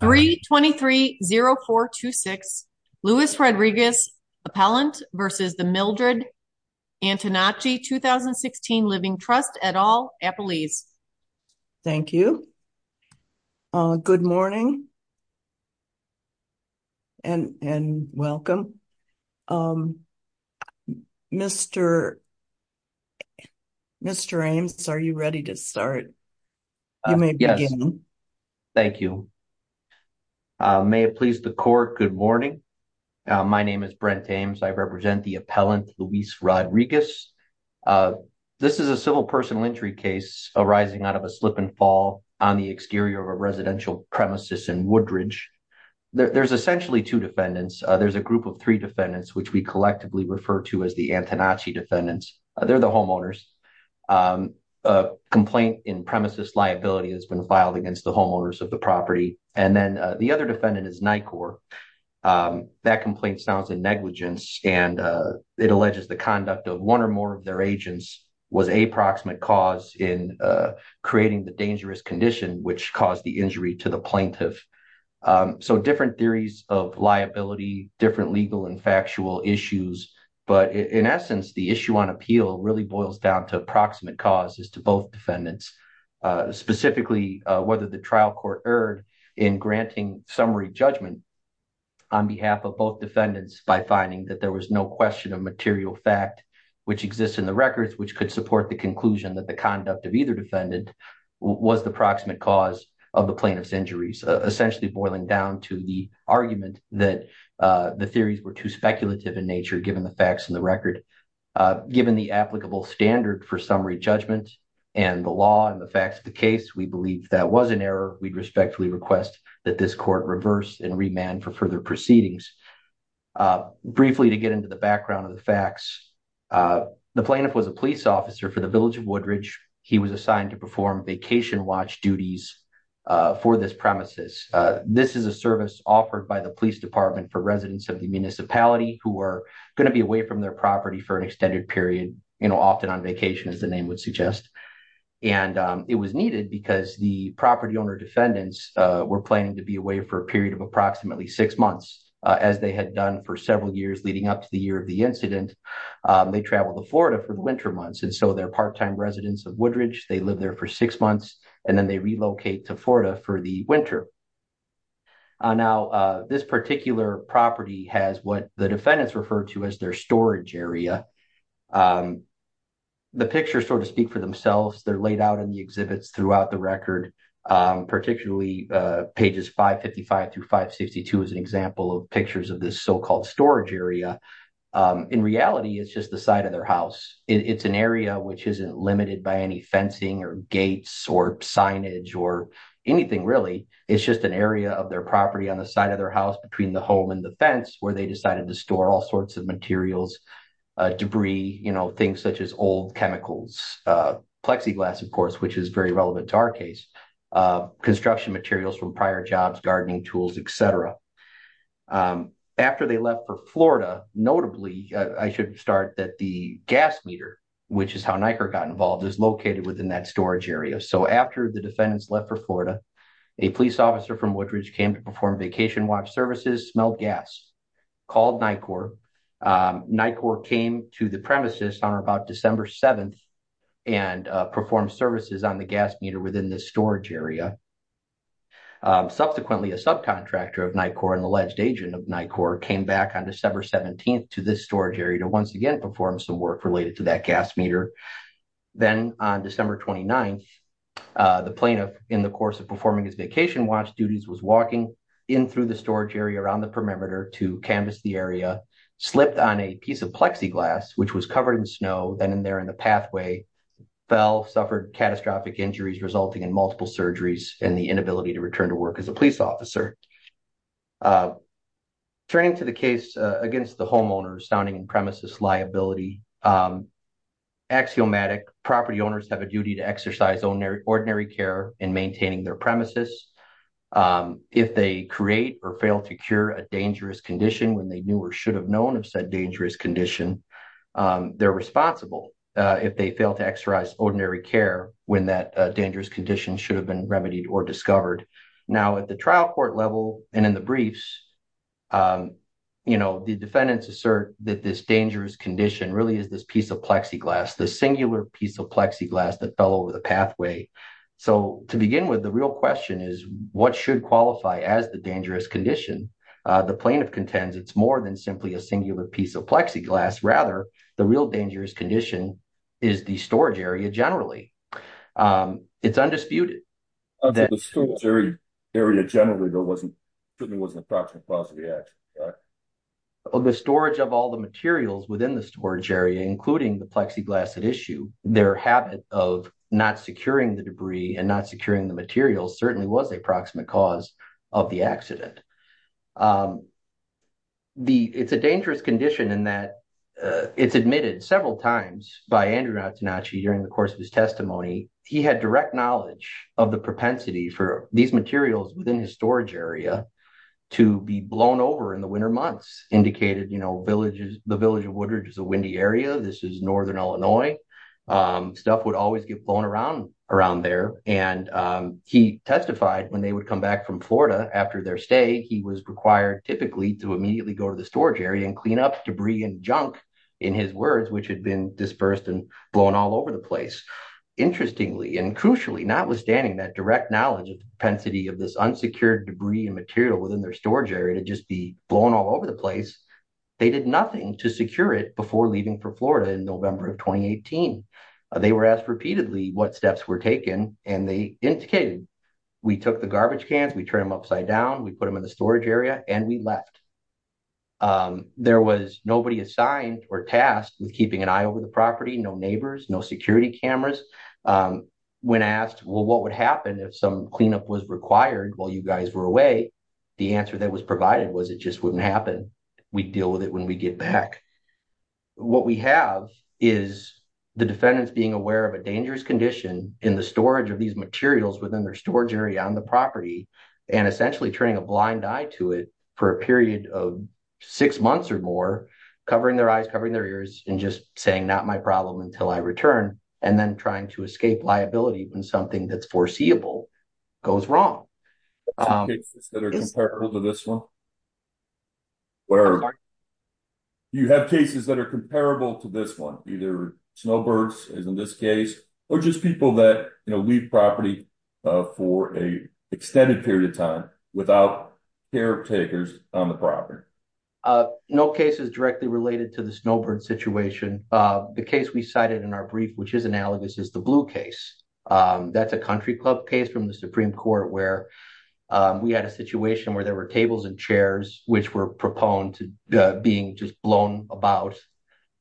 3230426 Louis Rodriguez Appellant v. The Mildred Antonacci 2016 Living Trust et al. Appelese. Thank you. Good morning and welcome. Mr. Ames, are you ready to start? You may begin. Thank you. May it please the court, good morning. My name is Brent Ames. I represent the appellant, Luis Rodriguez. This is a civil personal injury case arising out of a slip and fall on the exterior of a residential premises in Woodridge. There's essentially two defendants. There's a group of three defendants, which we collectively refer to as the Antonacci defendants. They're the homeowners. A complaint in premises liability has been filed against the homeowners of the property, and then the other defendant is NICOR. That complaint sounds in negligence, and it alleges the conduct of one or more of their agents was a proximate cause in creating the dangerous condition which caused the injury to the plaintiff. So different theories of liability, different legal and factual issues, but in essence the issue on appeal really boils down to approximate cause as to both defendants, specifically whether the trial court erred in granting summary judgment on behalf of both defendants by finding that there was no question of material fact which exists in the records which could support the conclusion that the conduct of either defendant was the proximate cause of the plaintiff's injuries, essentially boiling down to the argument that the theories were too speculative in nature given the facts in the record. Given the applicable standard for summary judgment and the law and the facts of the case, we believe that was an error. We respectfully request that this court reverse and remand for further proceedings. Briefly to get into the background of the facts, the plaintiff was a police officer for the village of Woodridge. He was assigned to perform vacation watch duties for this premises. This is a service offered by the police department for residents of the municipality who are going to be away from their property for an extended period, you know, often on vacation as the name would suggest. And it was needed because the property owner defendants were planning to be away for a period of approximately six months as they had done for several years leading up to the year of the incident. They traveled to Florida for the winter months and so they're part-time residents of Woodridge. They lived there for six months and then they relocate to Florida for the winter. Now, this particular property has what the defendants referred to as their storage area. The pictures sort of speak for themselves. They're laid out in the exhibits throughout the record, particularly pages 555 through 562 as an example of pictures of this so-called storage area. In reality, it's just the side of their house. It's an area which isn't limited by any fencing or gates or signage or anything really. It's just an area of their property on the side of their house between the home and the fence where they decided to store all sorts of materials, debris, you know, things such as old chemicals, plexiglass, of course, which is very relevant to our case, construction materials from prior jobs, gardening tools, etc. After they left for Florida, notably, I should start that the gas meter, which is how NICOR got involved, is located within that storage area. So, after the defendants left for Florida, a police officer from Woodridge came to perform vacation watch services, smelled gas, called NICOR. NICOR came to the premises on about December 7th and performed services on the gas meter within this storage area. Subsequently, a subcontractor of NICOR and alleged agent of NICOR came back on December 17th to this storage area to once again perform some work related to that gas meter. Then on December 29th, the plaintiff, in the course of performing his vacation watch duties, was walking in through the storage area around the perimeter to canvas the area, slipped on a piece of plexiglass, which was covered in snow, then in there in the pathway, fell, suffered catastrophic injuries resulting in multiple surgeries and the inability to return to work as a police officer. Turning to the case against the homeowner, sounding in premises liability. Axiomatic property owners have a duty to exercise ordinary care in maintaining their premises. If they create or fail to cure a dangerous condition when they knew or should have known of said dangerous condition, they're responsible if they fail to exercise ordinary care when that dangerous condition should have been remedied or discovered. Now at the trial court level and in the briefs, you know, the defendants assert that this dangerous condition really is this piece of plexiglass, the singular piece of plexiglass that fell over the pathway. So to begin with, the real question is what should qualify as the dangerous condition? The plaintiff contends it's more than simply a piece of plexiglass. Rather, the real dangerous condition is the storage area generally. It's undisputed. The storage area generally certainly wasn't a proximate cause of the accident. The storage of all the materials within the storage area, including the plexiglass at issue, their habit of not securing the debris and not securing the materials certainly was a dangerous condition in that it's admitted several times by Andrew Natsunachi during the course of his testimony, he had direct knowledge of the propensity for these materials within his storage area to be blown over in the winter months, indicated, you know, the village of Woodridge is a windy area. This is northern Illinois. Stuff would always get blown around there. And he testified when they would come back from Florida after their stay, he was required typically to go to the storage area and clean up debris and junk, in his words, which had been dispersed and blown all over the place. Interestingly and crucially, notwithstanding that direct knowledge of the propensity of this unsecured debris and material within their storage area to just be blown all over the place, they did nothing to secure it before leaving for Florida in November of 2018. They were asked repeatedly what steps were taken and they indicated, we took the garbage out. There was nobody assigned or tasked with keeping an eye over the property, no neighbors, no security cameras. When asked, well what would happen if some cleanup was required while you guys were away, the answer that was provided was it just wouldn't happen. We'd deal with it when we get back. What we have is the defendants being aware of a dangerous condition in the storage of these materials within their storage area on the property and essentially turning a blind eye to it for a period of six months or more, covering their eyes, covering their ears and just saying not my problem until I return and then trying to escape liability when something that's foreseeable goes wrong. Are there cases that are comparable to this one? You have cases that are comparable to this one, either snowbirds as in this case or just people that leave property for an extended period of time without caretakers on the property. No cases directly related to the snowbird situation. The case we cited in our brief, which is analogous, is the blue case. That's a country club case from the Supreme Court where we had a situation where there were tables and chairs which were proponed to being just blown about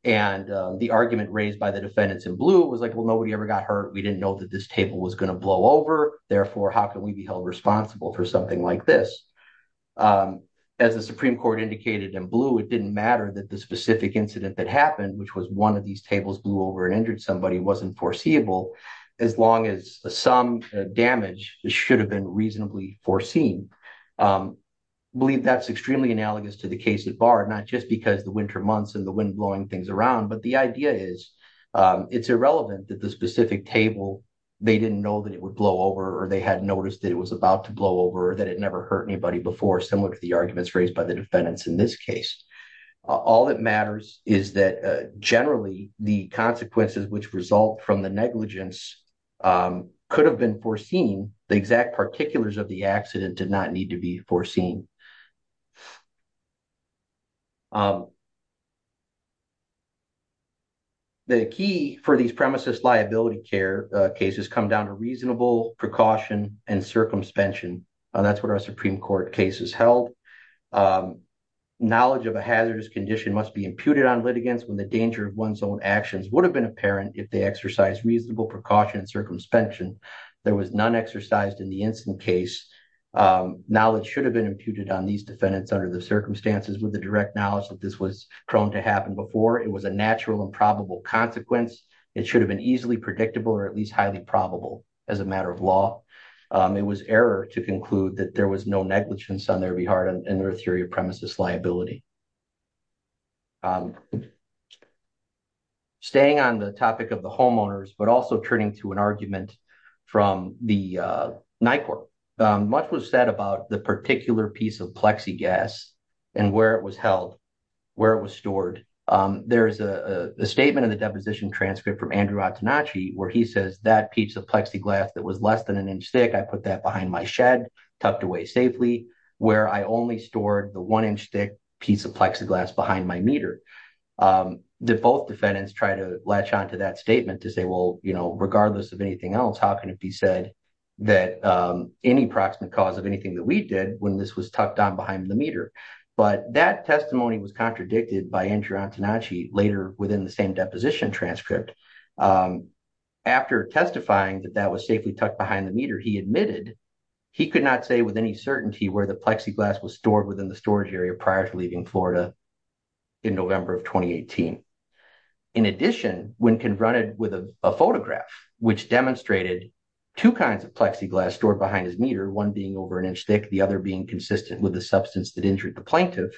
and the argument raised by the defendants in blue was like, well nobody ever got hurt, we didn't know that this table was going to blow over, therefore how can we be held responsible for something like this? As the Supreme Court indicated in blue, it didn't matter that the specific incident that happened, which was one of these tables blew over and injured somebody, wasn't foreseeable as long as some damage should have been reasonably foreseen. I believe that's extremely analogous to the case at Bard, not just because the winter months and the wind blowing things around, but the idea is it's irrelevant that the specific table, they didn't know that it would blow over or they hadn't noticed that it was about to blow over or that it never hurt anybody before, similar to the arguments raised by the defendants in this case. All that matters is that generally the consequences which result from the negligence could have been foreseen, the exact particulars of the accident did not need to be foreseen. The key for these premises liability care cases come down to reasonable precaution and circumspension, that's what our Supreme Court cases held. Knowledge of a hazardous condition must be imputed on litigants when the danger of one's own actions would have been apparent if they exercised reasonable precaution and circumspension. There was none exercised in the incident case, knowledge should have been imputed on these defendants under the circumstances with the natural and probable consequence, it should have been easily predictable or at least highly probable as a matter of law. It was error to conclude that there was no negligence on their behalf in their theory of premises liability. Staying on the topic of the homeowners, but also turning to an argument from the NICOR. Much was said about the particular piece of plexiglass and where it was held, where it was stored. There's a statement in the deposition transcript from Andrew Atanachi where he says that piece of plexiglass that was less than an inch thick, I put that behind my shed tucked away safely, where I only stored the one inch thick piece of plexiglass behind my meter. Did both defendants try to latch on to that statement to say, well, you know, regardless of anything else, how can it be said that any proximate cause of anything that we did when this was tucked on behind the meter? But that testimony was contradicted by Andrew Atanachi later within the same deposition transcript. After testifying that that was safely tucked behind the meter, he admitted he could not say with any certainty where the plexiglass was stored within the storage area prior to leaving Florida in November of 2018. In addition, when confronted with a photograph, which demonstrated two kinds of plexiglass stored behind his meter, one being over an inch thick, the other being consistent with the substance that injured the plaintiff,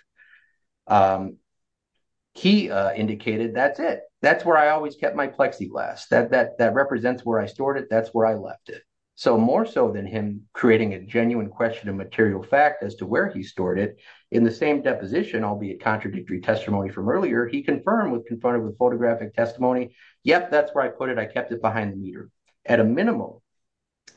he indicated that's it, that's where I always kept my plexiglass, that represents where I stored it, that's where I left it. So more so than him creating a genuine question of material fact as to where he stored it, in the same deposition, albeit contradictory testimony from earlier, he confirmed when confronted with photographic testimony, yep, that's where I put it, I kept it behind the meter. At a minimum,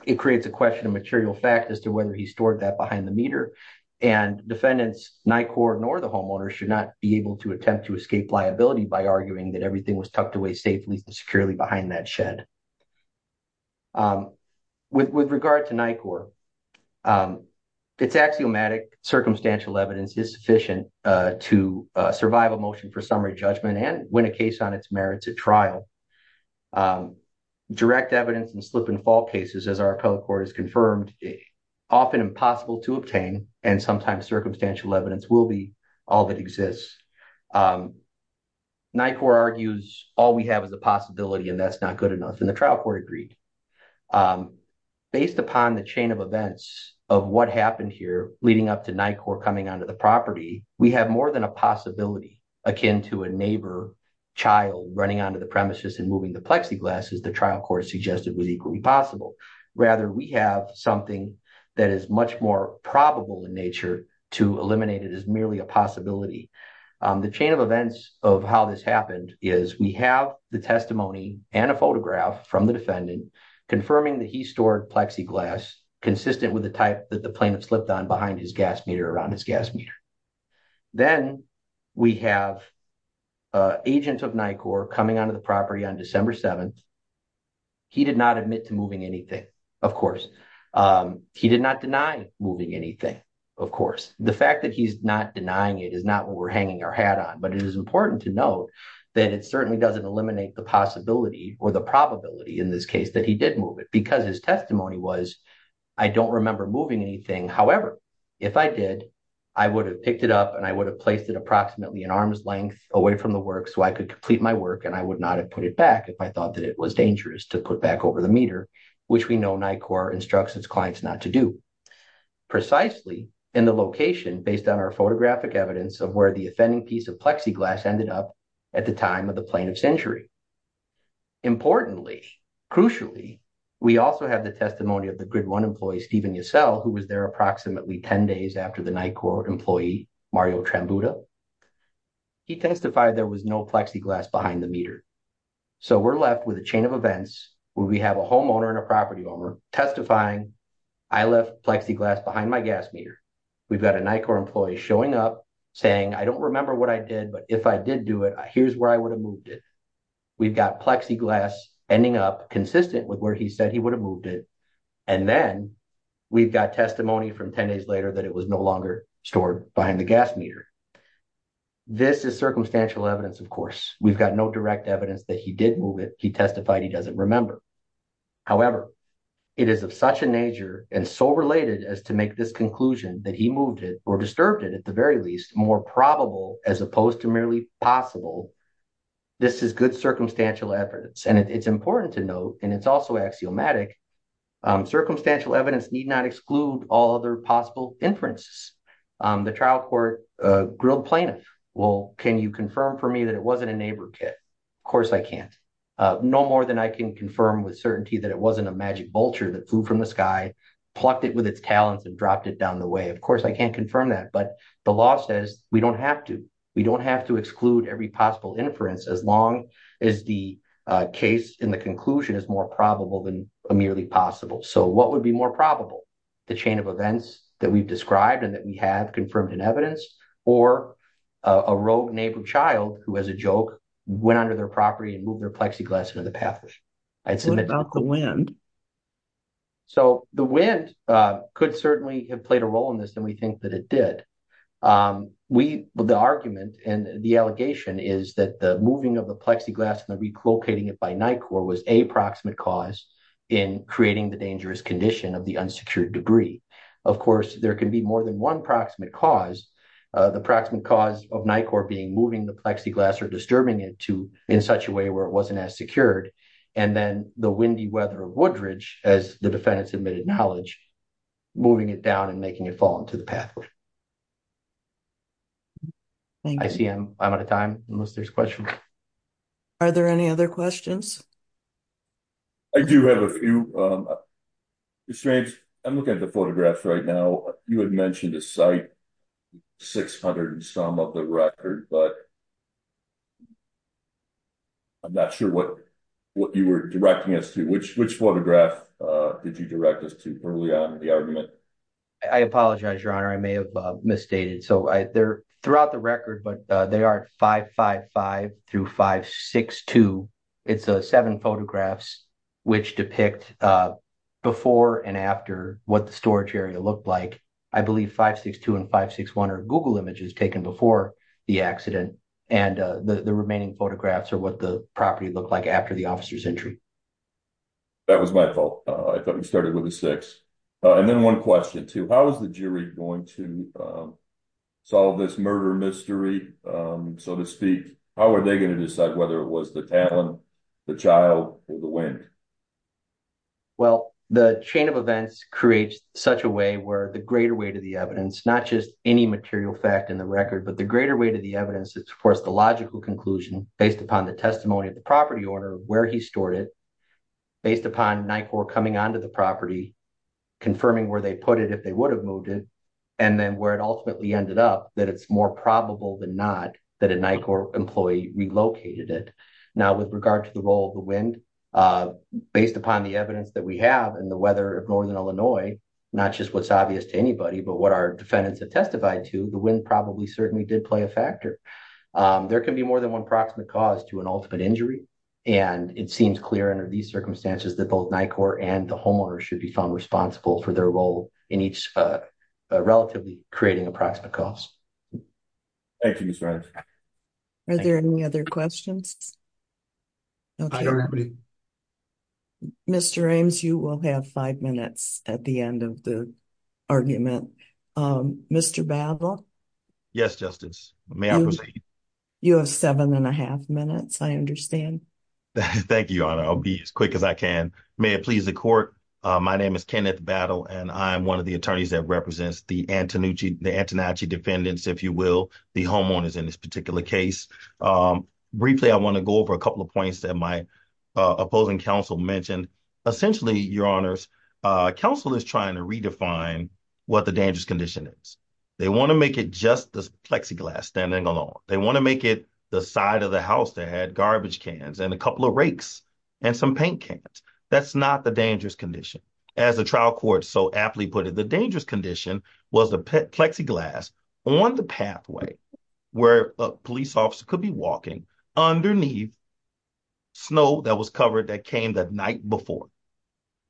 it creates a question of material fact as to whether he stored that behind the meter and defendants, NICOR nor the homeowner, should not be able to attempt to escape liability by arguing that everything was tucked away safely and securely behind that shed. With regard to NICOR, its axiomatic circumstantial evidence is sufficient to survive a motion for summary judgment and win a case on its merits at trial. Direct evidence and slip and fall cases, as our appellate court has confirmed, often impossible to obtain and sometimes circumstantial evidence will be all that exists. NICOR argues all we have is a possibility and that's not good enough and the trial court agreed. Based upon the chain of events of what happened here leading up to NICOR coming onto the property, we have more than a possibility akin to a neighbor child running onto the premises and moving the plexiglass as the trial court suggested was equally possible. Rather, we have something that is much more probable in nature to eliminate it as merely a possibility. The chain of events of how this happened is we have the testimony and a photograph from the defendant confirming that he stored plexiglass consistent with the type that the then we have an agent of NICOR coming onto the property on December 7th. He did not admit to moving anything, of course. He did not deny moving anything, of course. The fact that he's not denying it is not what we're hanging our hat on, but it is important to note that it certainly doesn't eliminate the possibility or the probability in this case that he did move it because his testimony was, I don't remember moving anything. However, if I did, I would have placed it approximately an arm's length away from the work so I could complete my work and I would not have put it back if I thought that it was dangerous to put back over the meter, which we know NICOR instructs its clients not to do. Precisely in the location based on our photographic evidence of where the offending piece of plexiglass ended up at the time of the plaintiff's injury. Importantly, crucially, we also have the testimony of the grid one employee, who was there approximately 10 days after the NICOR employee, Mario Trambuta. He testified there was no plexiglass behind the meter. So, we're left with a chain of events where we have a homeowner and a property owner testifying, I left plexiglass behind my gas meter. We've got a NICOR employee showing up saying, I don't remember what I did, but if I did do it, here's where I would have moved it. We've got plexiglass ending up consistent with where he would have moved it. And then, we've got testimony from 10 days later that it was no longer stored behind the gas meter. This is circumstantial evidence, of course. We've got no direct evidence that he did move it. He testified he doesn't remember. However, it is of such a nature and so related as to make this conclusion that he moved it or disturbed it, at the very least, more probable as opposed to merely possible. This is good circumstantial evidence and it's important to note, and it's also axiomatic, circumstantial evidence need not exclude all other possible inferences. The trial court grilled plaintiff. Well, can you confirm for me that it wasn't a neighbor kit? Of course, I can't. No more than I can confirm with certainty that it wasn't a magic vulture that flew from the sky, plucked it with its talons and dropped it down the way. Of course, I can't confirm that, but the law says we don't have to. We don't have to exclude every possible inference as long as the case in the conclusion is more probable than merely possible. So, what would be more probable? The chain of events that we've described and that we have confirmed in evidence or a rogue neighbor child who, as a joke, went under their property and moved their plexiglass into the path? What about the wind? So, the wind could certainly have played a role in this and we think that it did. The argument and the allegation is that the moving of the plexiglass and the relocating it by NICOR was a proximate cause in creating the dangerous condition of the unsecured debris. Of course, there can be more than one proximate cause. The proximate cause of NICOR being moving the plexiglass or disturbing it to in such a way where it wasn't as secured and then the windy weather of Woodridge, as the defendants admitted knowledge, moving it down and making it fall into the pathway. I see I'm out of time unless there's questions. Are there any other questions? I do have a few. Mr. Haynes, I'm looking at the photographs right now. You had mentioned a site, 600 and some of the record, but I'm not sure what you were directing us to. Which photograph did you direct us to early on in the argument? I apologize, your honor. I may have misstated. So, they're throughout the record, but they are 555 through 562. It's seven photographs which depict before and after what the storage area looked like. I believe 562 and 561 are Google images taken before the accident and the remaining photographs are what the property looked like after the officer's entry. That was my fault. I thought we started with a six. And then one question too. How is the jury going to solve this murder mystery, so to speak? How are they going to decide whether it was the talent, the child, or the wind? Well, the chain of events creates such a way where the greater the evidence, not just any material fact in the record, but the greater weight of the evidence that supports the logical conclusion based upon the testimony of the property owner, where he stored it, based upon NICOR coming onto the property, confirming where they put it if they would have moved it, and then where it ultimately ended up that it's more probable than not that a NICOR employee relocated it. Now, with regard to the role of the wind, based upon the evidence that we have and the weather of northern Illinois, not just what's obvious to anybody, but what our defendants have testified to, the wind probably certainly did play a factor. There can be more than one proximate cause to an ultimate injury, and it seems clear under these circumstances that both NICOR and the homeowner should be found responsible for their role in each relatively creating approximate cause. Thank you, Mr. Rames. Are there any other questions? I don't have any. Mr. Rames, you will have five minutes at the end of the argument. Mr. Battle? Yes, Justice. May I proceed? You have seven and a half minutes, I understand. Thank you, Your Honor. I'll be as quick as I can. May it please the court. My name is Kenneth Battle, and I'm one of the attorneys that represents the Antonacci defendants, if you will, the homeowners in this particular case. Briefly, I want to go over a couple of points that my opposing counsel mentioned. Essentially, Your Honors, counsel is trying to redefine what the dangerous condition is. They want to make it just this plexiglass standing alone. They want to make it the side of the house that had garbage cans and a couple of rakes and some paint cans. That's not the dangerous condition. As the trial court so aptly put it, dangerous condition was the plexiglass on the pathway where a police officer could be walking underneath snow that was covered that came the night before.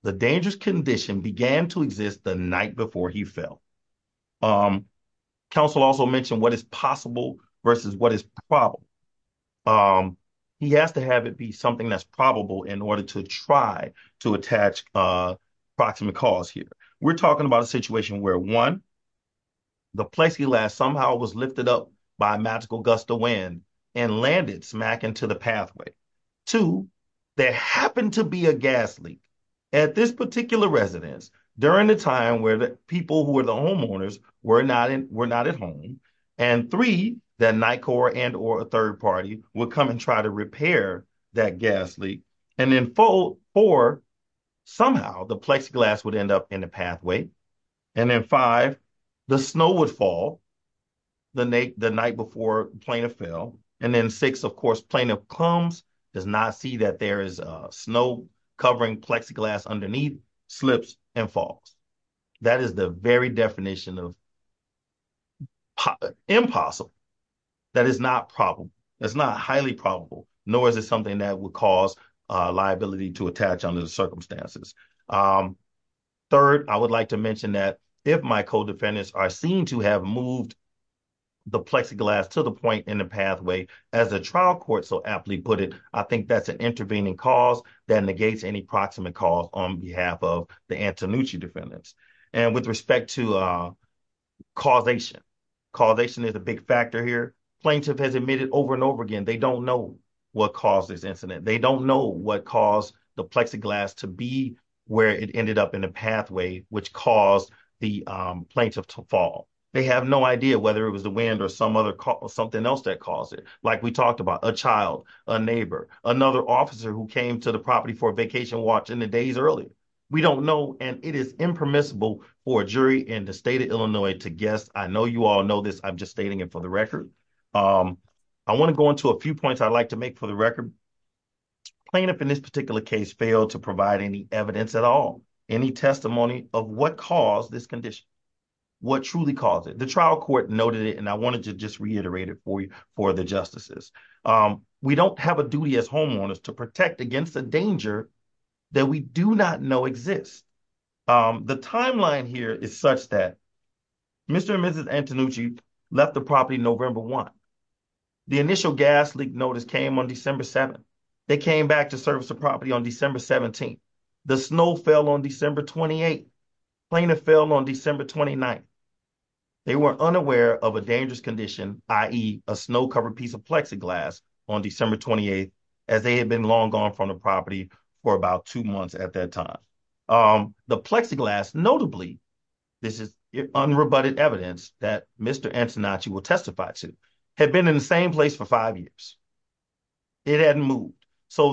The dangerous condition began to exist the night before he fell. Counsel also mentioned what is possible versus what is probable. He has to have it be something that's probable in order to try to attach proximate cause here. We're talking about a situation where, one, the plexiglass somehow was lifted up by a magical gust of wind and landed smack into the pathway. Two, there happened to be a gas leak at this particular residence during the time where people who were the homeowners were not at home. Three, the NICOR and or a third party would come and try to repair that gas leak. Then four, somehow the plexiglass would end up in the pathway. Then five, the snow would fall the night before plaintiff fell. Then six, of course, plaintiff comes, does not see that there is snow covering plexiglass underneath, slips and falls. That is the very definition of impossible. That is not probable. It's not highly probable, nor is it something that would cause liability to attach under the circumstances. Third, I would like to mention that if my co-defendants are seen to have moved the plexiglass to the point in the pathway, as a trial court so aptly put it, I think that's intervening cause that negates any proximate cause on behalf of the Antonucci defendants. And with respect to causation, causation is a big factor here. Plaintiff has admitted over and over again, they don't know what caused this incident. They don't know what caused the plexiglass to be where it ended up in the pathway, which caused the plaintiff to fall. They have no idea whether it was the wind or something else that caused it. Like we talked about a child, a neighbor, another officer who came to the property for a vacation watching the days earlier. We don't know. And it is impermissible for a jury in the state of Illinois to guess. I know you all know this. I'm just stating it for the record. I want to go into a few points I'd like to make for the record. Plaintiff in this particular case failed to provide any evidence at all, any testimony of what caused this condition, what truly caused it. The trial court noted it, and I wanted to just reiterate it for you, for the justices. We don't have a duty as homeowners to protect against a danger that we do not know exists. The timeline here is such that Mr. and Mrs. Antonucci left the property November 1. The initial gas leak notice came on December 7. They came back to service the property on December 17. The snow fell on December 28. Plaintiff fell on December 29. They were unaware of a dangerous condition, i.e. a snow-covered piece of plexiglass on December 28, as they had been long gone from the property for about two months at that time. The plexiglass, notably, this is unrebutted evidence that Mr. Antonucci will testify to, had been in the same place for five years. It hadn't moved.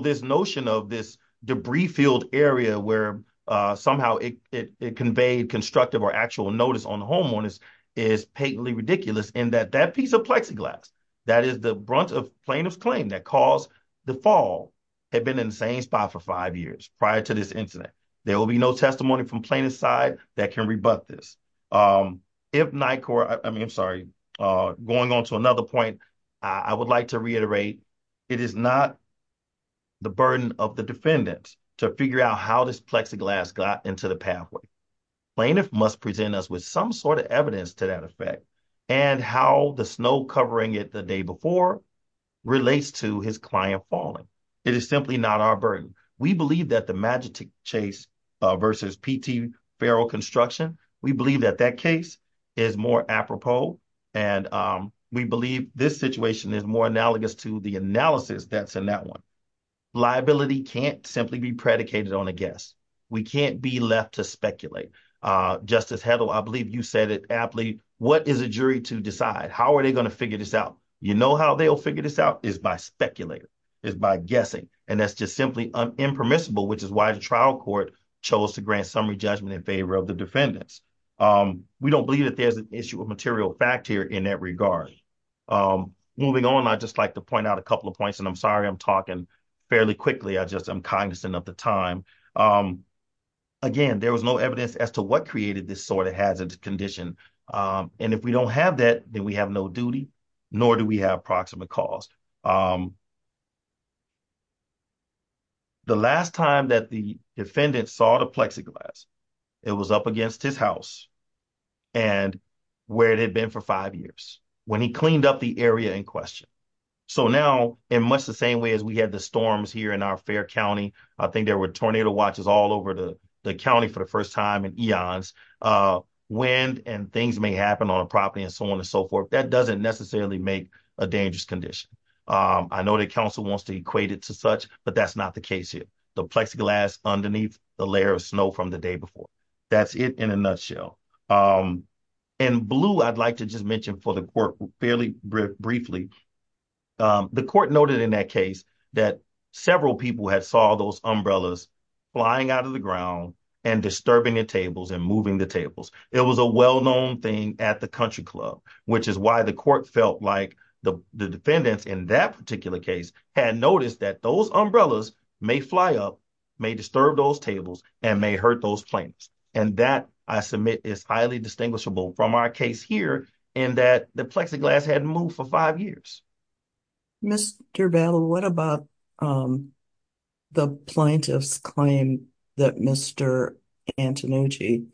This notion of this debris-filled area where somehow it conveyed constructive or actual notice on homeowners is patently ridiculous in that that piece of plexiglass, that is the brunt of plaintiff's claim that caused the fall, had been in the same spot for five years prior to this incident. There will be no testimony from plaintiff's side that can rebut this. If NICOR, I mean, I'm sorry, going on to another point, I would like to reiterate, it is not the burden of the defendant to figure out how this plexiglass got into the pathway. Plaintiff must present us with some sort of evidence to that effect and how the snow covering it the day before relates to his client falling. It is simply not our burden. We believe that the Magic Chase versus P.T. Feral Construction, we believe that that case is more apropos, and we believe this situation is more analogous to the analysis that's in that one. Liability can't simply be predicated on a guess. We can't be left to speculate. Justice Heddle, I believe you said it aptly, what is a jury to decide? How are they going to figure this out? You know how they'll figure this out is by speculating, is by guessing, and that's just simply impermissible, which is why trial court chose to grant summary judgment in favor of the defendants. We don't believe that there's an issue of material fact here in that regard. Moving on, I'd just like to point out a couple of points, and I'm sorry I'm talking fairly quickly, I just am cognizant of the time. Again, there was no evidence as to what created this sort of hazard condition, and if we don't have that, then we have no duty, nor do we have proximate cause. The last time that the defendant saw the plexiglass, it was up against his house, and where it had been for five years, when he cleaned up the area in question. So now, in much the same way as we had the storms here in our fair county, I think there were tornado watches all over the county for the first time in eons, wind and things may happen on property and so on and so forth. That doesn't necessarily make a dangerous condition. I know the council wants to equate it to such, but that's not the case here. The plexiglass underneath the layer of snow from the day before, that's it in a nutshell. In blue, I'd like to just mention for the court fairly briefly, the court noted in that case that several people had saw those umbrellas flying out of the ground and disturbing the tables and moving the tables. It was a well-known thing at the country club, which is why the court felt like the defendants in that particular case had noticed that those umbrellas may fly up, may disturb those tables, and may hurt those plaintiffs. And that, I submit, is highly distinguishable from our case here in that the plexiglass hadn't moved for five years. Mr. Vallow, what about the plaintiff's claim that Mr. Antonucci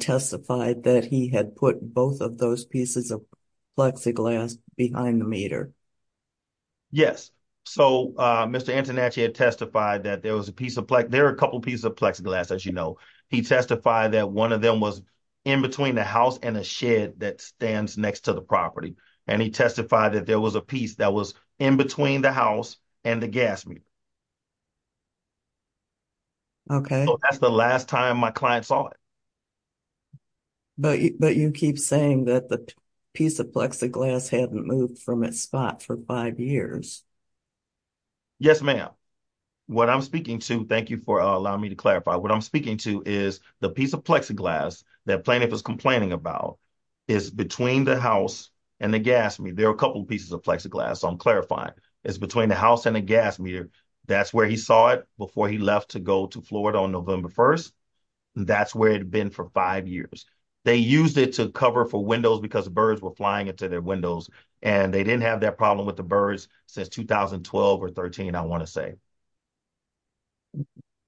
testified that he had put both of those pieces of plexiglass behind the meter? Yes, so Mr. Antonucci had testified that there was a piece of plexiglass. There are a couple pieces of plexiglass, as you know. He testified that one of them was in between the house and a shed that stands next to the property, and he testified that there was a piece that was in between the house and the gas meter. Okay. So that's the last time my client saw it. But you keep saying that the piece of plexiglass hadn't moved from its spot for five years. Yes, ma'am. What I'm speaking to, thank you for allowing me to clarify, what I'm speaking to is the piece of plexiglass that plaintiff is complaining about is between the house and the gas meter. There are a couple pieces of plexiglass, so I'm clarifying. It's between the house and the gas meter. That's where he saw it before he left to go to Florida on November 1st. That's where it had been for five years. They used it to cover for windows because birds were flying into their windows, and they didn't have that problem with the birds since 2012 or 13, I want to say.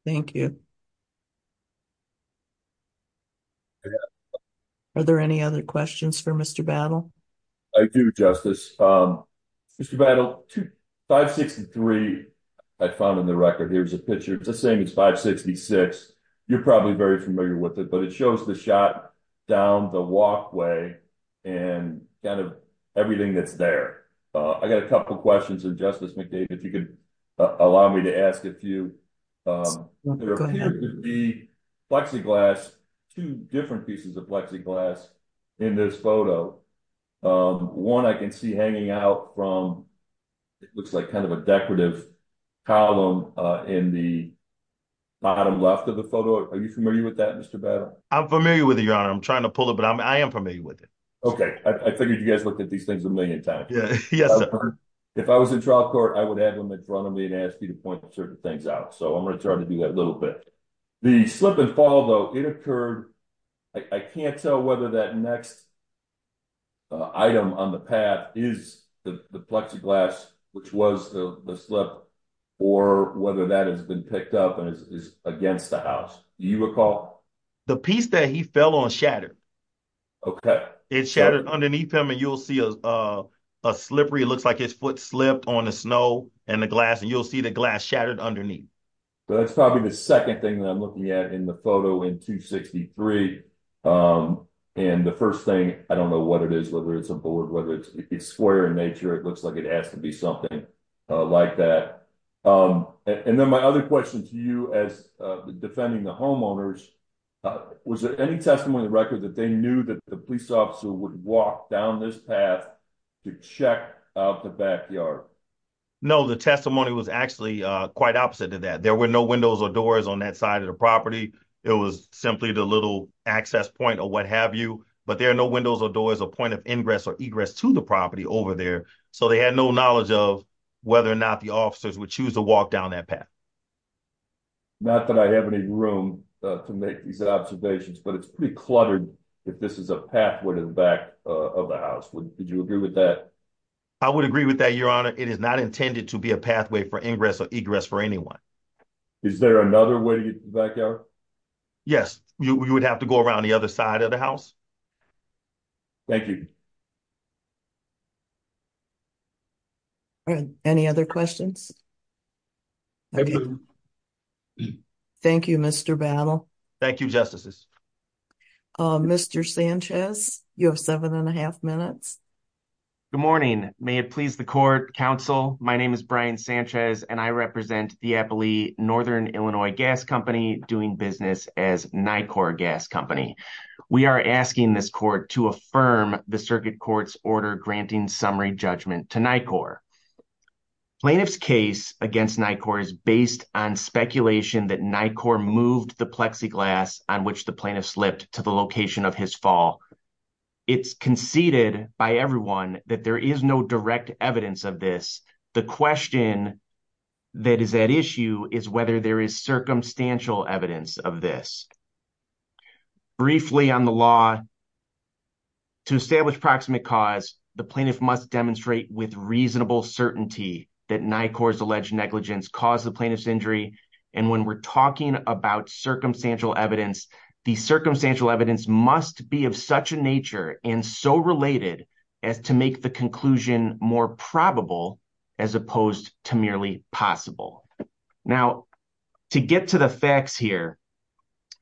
Thank you. Are there any other questions for Mr. Battle? I do, Justice. Mr. Battle, 563 I found in the record. Here's a picture. It's the same as 566. You're probably very familiar with it, but it shows the shot down the walkway and kind of everything that's there. I got a couple questions, and Justice McDade, if you could allow me to ask a few. There appear to be plexiglass, two different pieces of plexiglass in this photo. One I can see hanging out from, it looks like kind of a decorative column in the bottom left of the photo. Are you familiar with that, Mr. Battle? I'm familiar with it, Your Honor. I'm trying to pull it, but I am familiar with it. Okay, I figured you guys looked at these things a million times. Yes, sir. If I was in trial court, I would have him in front of me and ask you to point certain things out, so I'm going to try to do that a little bit. The slip and fall, though, it occurred, I can't tell whether that next item on the pad is the plexiglass, which was the slip, or whether that has been picked up and is against the house. Do you recall? The piece that he fell on shattered. Okay. It shattered underneath him, and you'll see a slippery, it looks like his foot slipped on the snow and the glass, and you'll see the glass shattered underneath. That's probably the second thing that photo in 263, and the first thing, I don't know what it is, whether it's a board, whether it's square in nature, it looks like it has to be something like that. And then my other question to you, as defending the homeowners, was there any testimony in the record that they knew that the police officer would walk down this path to check out the backyard? No, the testimony was actually quite opposite to that. There were no windows or doors on that side of the property. It was simply the little access point or what have you, but there are no windows or doors or point of ingress or egress to the property over there, so they had no knowledge of whether or not the officers would choose to walk down that path. Not that I have any room to make these observations, but it's pretty cluttered if this is a pathway to the back of the house. Would you agree with that? I would agree with that, your honor. It is not intended to be a pathway for ingress or egress for anyone. Is there another way to get to the backyard? Yes, you would have to go around the other side of the house. Thank you. Any other questions? Thank you, Mr. Battle. Thank you, Justices. Mr. Sanchez, you have seven and a half minutes. Good morning. May it please the court, counsel. My name is Brian Sanchez, and I represent the Applee Northern Illinois Gas Company doing business as NICOR Gas Company. We are asking this court to affirm the circuit court's order granting summary judgment to NICOR. Plaintiff's case against NICOR is based on speculation that NICOR moved the plexiglass on which the plaintiff slipped to the location of his fall. It's conceded by everyone that there is no direct evidence of this. The question that is at issue is whether there is circumstantial evidence of this. Briefly on the law, to establish proximate cause, the plaintiff must demonstrate with reasonable certainty that NICOR's alleged negligence caused the plaintiff's injury, and when we're talking about circumstantial evidence, the circumstantial evidence must be of such a nature and so related as to make the conclusion more probable as opposed to merely possible. Now, to get to the facts here,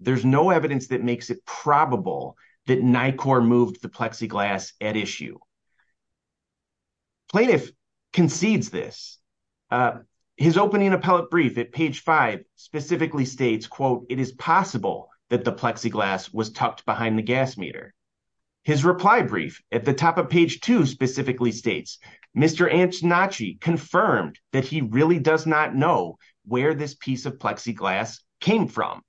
there's no evidence that makes it probable that NICOR moved the plexiglass at issue. Plaintiff concedes this. His opening appellate at page 5 specifically states, quote, it is possible that the plexiglass was tucked behind the gas meter. His reply brief at the top of page 2 specifically states, Mr. Antonacci confirmed that he really does not know where this piece of plexiglass came from.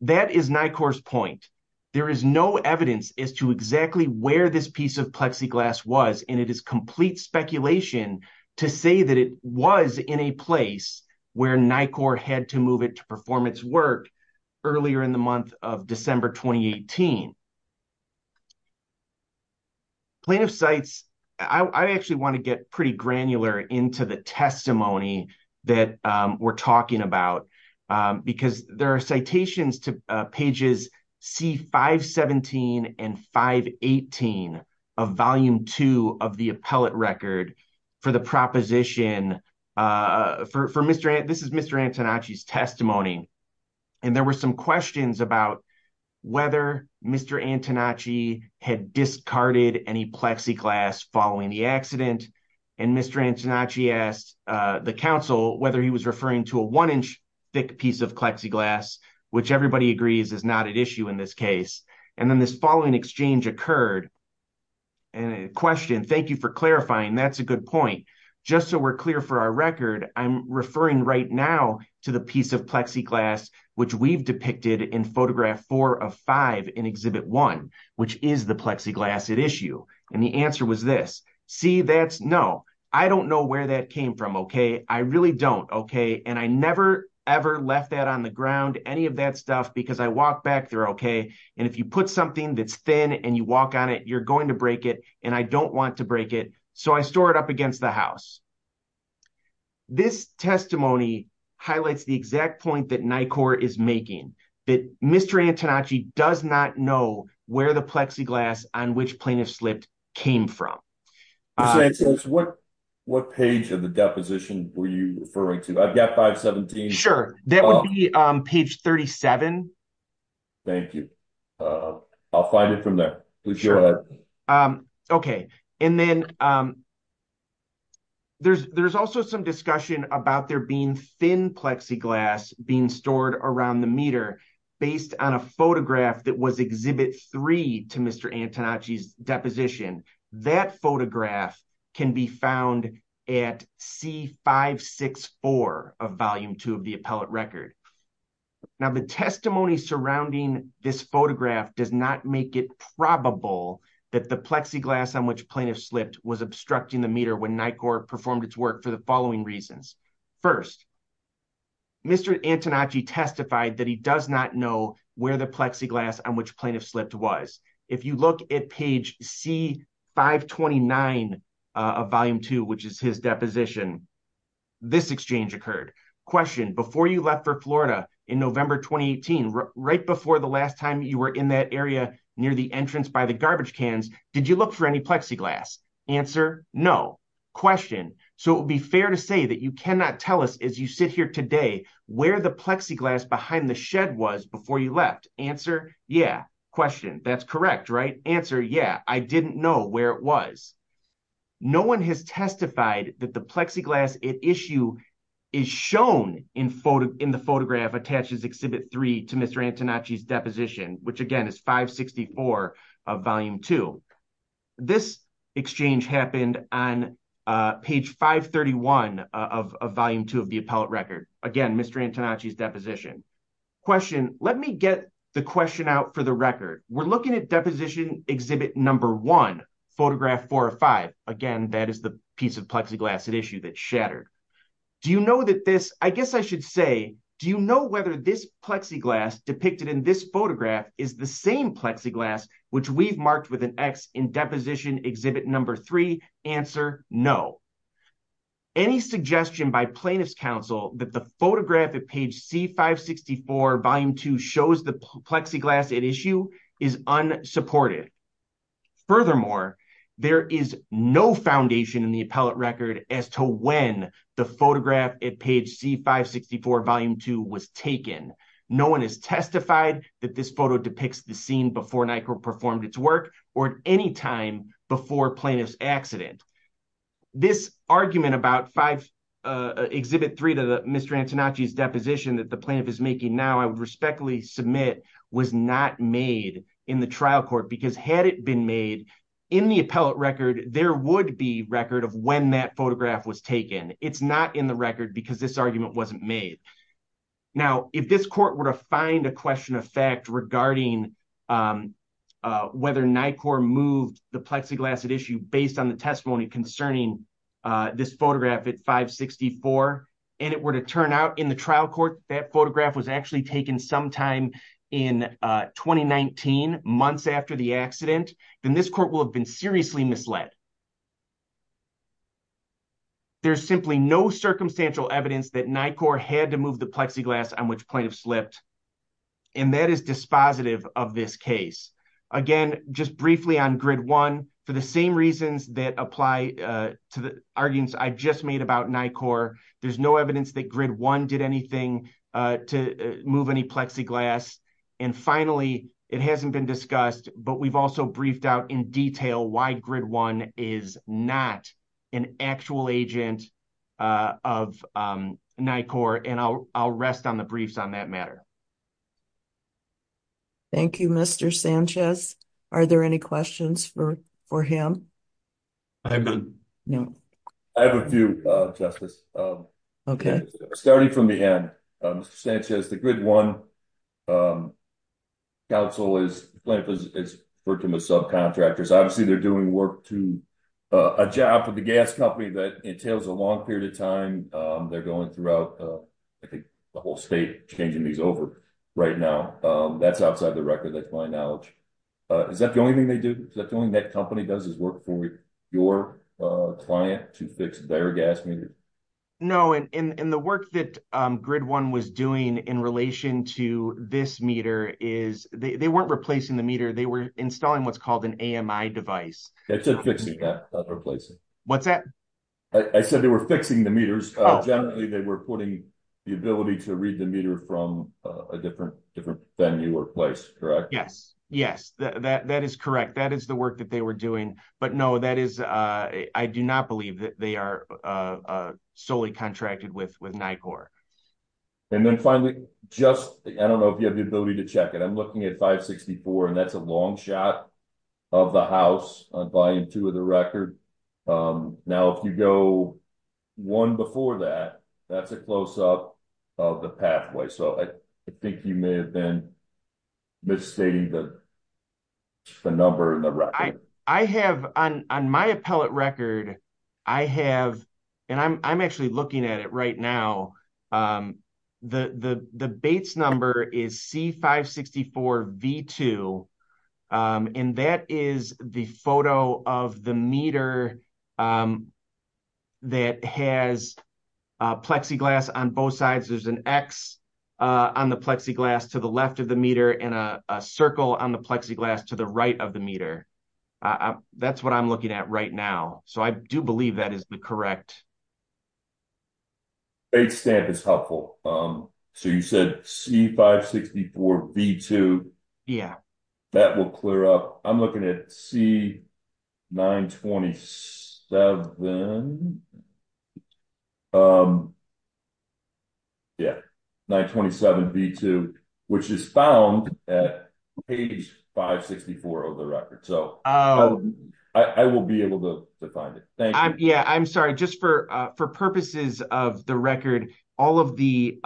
That is NICOR's point. There is no evidence as to exactly where this piece of plexiglass was, and it is complete speculation to say that it was in a place where NICOR had to move it to performance work earlier in the month of December 2018. Plaintiff cites, I actually want to get pretty granular into the testimony that we're talking about, because there are citations to pages C-517 and C-518 of volume 2 of the appellate record for the proposition. This is Mr. Antonacci's testimony, and there were some questions about whether Mr. Antonacci had discarded any plexiglass following the accident, and Mr. Antonacci asked the counsel whether he was referring to a one-inch thick piece of plexiglass, which everybody agrees is not at issue in this case. And then this following exchange occurred, and a question, thank you for clarifying, that's a good point, just so we're clear for our record, I'm referring right now to the piece of plexiglass which we've depicted in photograph 4 of 5 in exhibit 1, which is the plexiglass at issue, and the answer was this. See, that's, no, I don't know where that came from, okay, I really don't, okay, and I never ever left that on the ground, any of that stuff, because I walked back there, okay, and if you put something that's thin and you walk on it, you're going to break it, and I don't want to break it, so I store it up against the house. This testimony highlights the exact point that NICOR is making, that Mr. Antonacci does not know where the plexiglass on which plaintiffs slipped came from. So it says, what page of the deposition were you referring to? I've got 517. Sure, that would be page 37. Thank you, I'll find it from there. Okay, and then there's also some discussion about there being thin plexiglass being stored around the meter based on a photograph that was exhibit 3 to Mr. Antonacci's deposition. That photograph can be found at C564 of volume 2 of the appellate record. Now, the testimony surrounding this photograph does not make it probable that the plexiglass on which plaintiffs slipped was obstructing the meter when NICOR performed its work for the following reasons. First, Mr. Antonacci testified that he does not know where the plexiglass on which 529 of volume 2, which is his deposition, this exchange occurred. Question, before you left for Florida in November 2018, right before the last time you were in that area near the entrance by the garbage cans, did you look for any plexiglass? Answer, no. Question, so it would be fair to say that you cannot tell us as you sit here today where the plexiglass behind the shed was before you left. Answer, yeah. Question, that's correct, right? Answer, yeah. I didn't know where it was. No one has testified that the plexiglass at issue is shown in the photograph attached as exhibit 3 to Mr. Antonacci's deposition, which again is 564 of volume 2. This exchange happened on page 531 of volume 2 of the appellate record. Again, Mr. Antonacci's deposition. Question, let me get the question out for the record. We're looking at deposition exhibit number one, photograph four or five. Again, that is the piece of plexiglass at issue that shattered. Do you know that this, I guess I should say, do you know whether this plexiglass depicted in this photograph is the same plexiglass which we've marked with an X in deposition exhibit number three? Answer, no. Any suggestion by plaintiff's counsel that the photograph at page C564 volume 2 shows the plexiglass at issue is unsupported. Furthermore, there is no foundation in the appellate record as to when the photograph at page C564 volume 2 was taken. No one has testified that this photo depicts the scene before Nyquil performed its work or at any time before plaintiff's accident. This argument about exhibit 3 to Mr. Antonacci's deposition that the plaintiff is making now, I would respectfully submit was not made in the trial court because had it been made in the appellate record, there would be record of when that photograph was taken. It's not in the regarding whether Nyquil moved the plexiglass at issue based on the testimony concerning this photograph at 564 and it were to turn out in the trial court that photograph was actually taken sometime in 2019, months after the accident, then this court will have been seriously misled. There's simply no circumstantial evidence that Nyquil had to move the plexiglass on which of slipped and that is dispositive of this case. Again, just briefly on grid one, for the same reasons that apply to the arguments I just made about Nyquil, there's no evidence that grid one did anything to move any plexiglass and finally, it hasn't been discussed but we've also briefed out in detail why grid one is not an actual agent of Nyquil and I'll rest on the briefs on that matter. Thank you, Mr. Sanchez. Are there any questions for him? I have a few, Justice. Okay. Starting from the end, Mr. Sanchez, the grid one council is working with subcontractors. Obviously, they're doing work to a job with the gas company that entails a long period of time. They're going throughout, I think, the whole state changing these over right now. That's outside the record. That's my knowledge. Is that the only thing they No, and the work that grid one was doing in relation to this meter is they weren't replacing the meter. They were installing what's called an AMI device. That's a fixing that, not replacing. What's that? I said they were fixing the meters. Generally, they were putting the ability to read the meter from a different venue or place, correct? Yes. Yes, that is correct. That is the work that we're doing. No, I do not believe that they are solely contracted with NICOR. Then finally, I don't know if you have the ability to check it. I'm looking at 564 and that's a long shot of the house on volume two of the record. Now, if you go one before that, that's a close up of the pathway. I think you may have been misstating the number in the record. On my appellate record, I have and I'm actually looking at it right now. The Bates number is C564V2 and that is the photo of the meter that has plexiglass on both sides. There's an X on the plexiglass to the left of the meter and a circle on the plexiglass to the right of the meter. That's what I'm looking at right now. I do believe that is the correct Bates stamp is helpful. You said C564V2. That will clear up. I'm looking at C927V2 which is found at page 564 of the record. I will be able to find it. For purposes of the record, all of the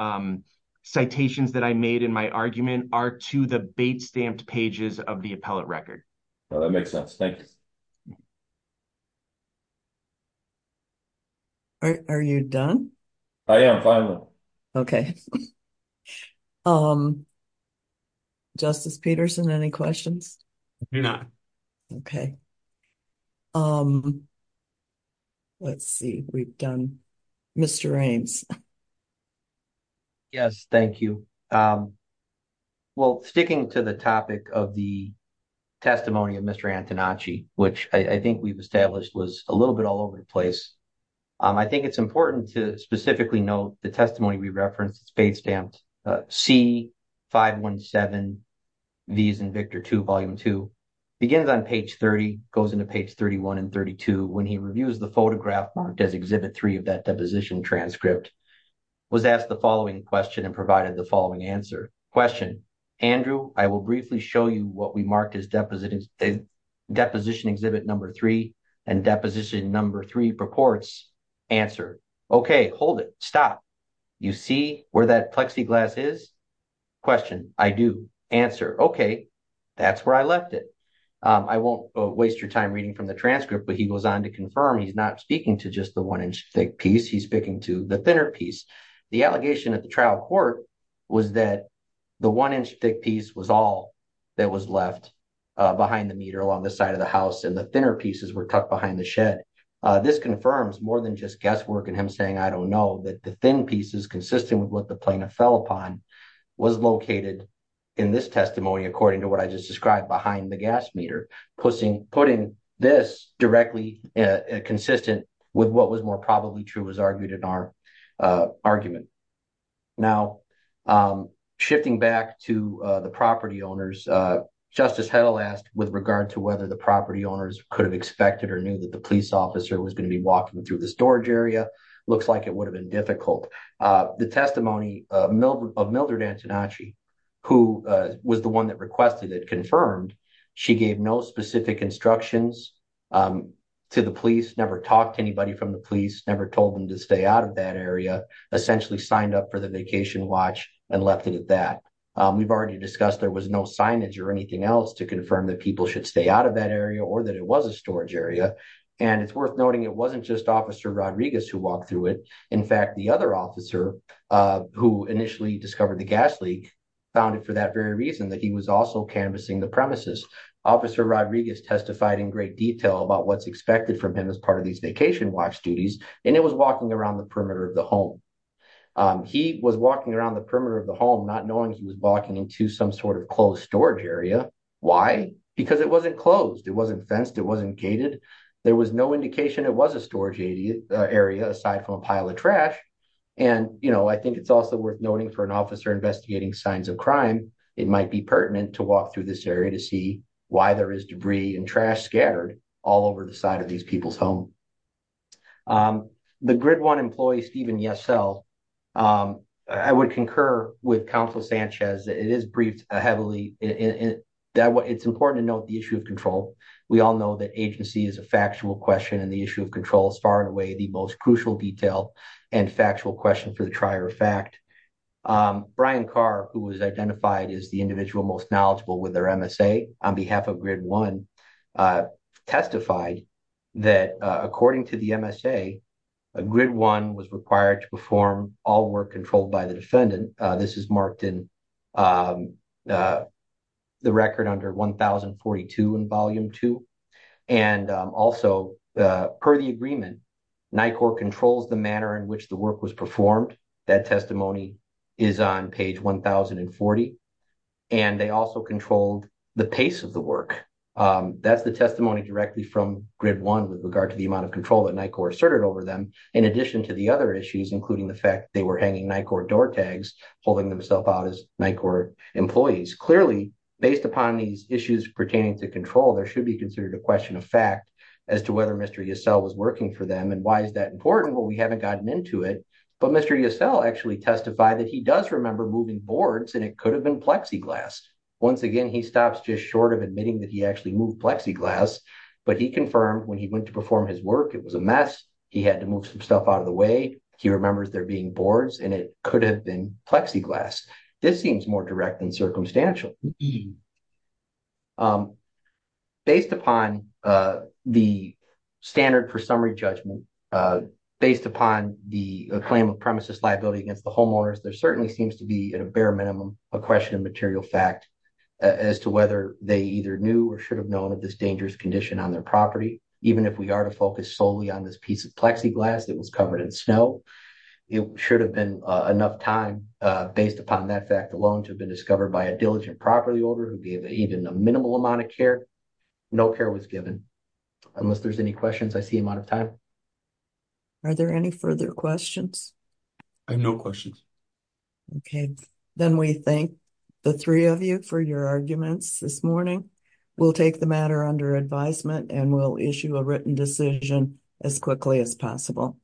citations that I made in my argument are to the Bates stamped pages of the appellate record. That makes sense. Thank you. Are you done? I am finally. Okay. Justice Peterson, any questions? No. Okay. Let's see. We've done Mr. Raines. Yes, thank you. Well, sticking to the topic of the testimony of Mr. Antonacci, which I think we've established was a little bit all over the place. I think it's important to specifically note the Bates stamped C517V2V2 begins on page 30, goes into page 31 and 32 when he reviews the photograph marked as Exhibit 3 of that deposition transcript, was asked the following question and provided the following answer. Question, Andrew, I will briefly show you what we marked as Deposition Exhibit Number 3 and Deposition Number 3 purports. Answer, okay, hold it. Stop. You see where that plexiglass is? Question, I do. Answer, okay, that's where I left it. I won't waste your time reading from the transcript, but he goes on to confirm he's not speaking to just the one-inch thick piece. He's speaking to the thinner piece. The allegation at the trial court was that the one-inch thick piece was all that was left behind the meter along the side of the house and the pieces were tucked behind the shed. This confirms more than just guesswork and him saying I don't know that the thin pieces consistent with what the plaintiff fell upon was located in this testimony according to what I just described behind the gas meter. Putting this directly consistent with what was more probably true was argued in our argument. Now, shifting back to the property owners, Justice Hedl asked with regard to whether the property owners could have expected or knew that the police officer was going to be walking through the storage area. Looks like it would have been difficult. The testimony of Mildred Antonacci, who was the one that requested it, confirmed she gave no specific instructions to the police, never talked to anybody from the police, never told them to stay out of that area, essentially signed up for the vacation watch and left it at that. We've already discussed there was no signage or anything else to confirm that people should stay out of that area or that it was a storage area and it's worth noting it wasn't just Officer Rodriguez who walked through it. In fact, the other officer who initially discovered the gas leak found it for that very reason that he was also canvassing the premises. Officer Rodriguez testified in great detail about what's expected from him as part of these vacation watch duties and it was walking around the perimeter of the home. He was walking around the perimeter of the home not knowing he was walking into some sort of closed storage area. Why? Because it wasn't closed, it wasn't fenced, it wasn't gated. There was no indication it was a storage area aside from a pile of trash. And you know, I think it's also worth noting for an officer investigating signs of crime, it might be pertinent to walk through this area to see why there is debris and trash scattered all over the side of these people's home. The GRID1 employee, Steven Yesel, I would concur with Councilor Sanchez that it is briefed heavily. It's important to note the issue of control. We all know that agency is a factual question and the issue of control is far and away the most crucial detail and factual question for the trier of fact. Brian Carr, who was identified as the individual most knowledgeable with their MSA on behalf of GRID1, testified that according to the MSA, GRID1 was required to perform all work controlled by the defendant. This is marked in the record under 1042 in Volume 2. And also, per the agreement, NICOR controls the manner in which work was performed. That testimony is on page 1040. And they also controlled the pace of the work. That's the testimony directly from GRID1 with regard to the amount of control that NICOR asserted over them, in addition to the other issues, including the fact they were hanging NICOR door tags, holding themselves out as NICOR employees. Clearly, based upon these issues pertaining to control, there should be considered a question of fact as to whether Mr. Yesel was working for them and why is that important? Well, we haven't gotten into it, but Mr. Yesel actually testified that he does remember moving boards and it could have been plexiglass. Once again, he stops just short of admitting that he actually moved plexiglass, but he confirmed when he went to perform his work, it was a mess. He had to move some stuff out of the way. He remembers there being boards and it could have been plexiglass. This seems more direct and circumstantial. Based upon the standard for summary judgment, based upon the claim of premises liability against the homeowners, there certainly seems to be, at a bare minimum, a question of material fact as to whether they either knew or should have known of this dangerous condition on their property. Even if we are to focus solely on this piece of plexiglass that was covered in snow, it should have been enough time based upon that fact alone to have been by a diligent property owner who gave even a minimal amount of care. No care was given. Unless there's any questions, I see I'm out of time. Are there any further questions? I have no questions. Okay, then we thank the three of you for your arguments this morning. We'll take the matter under advisement and we'll issue a written decision as quickly as possible.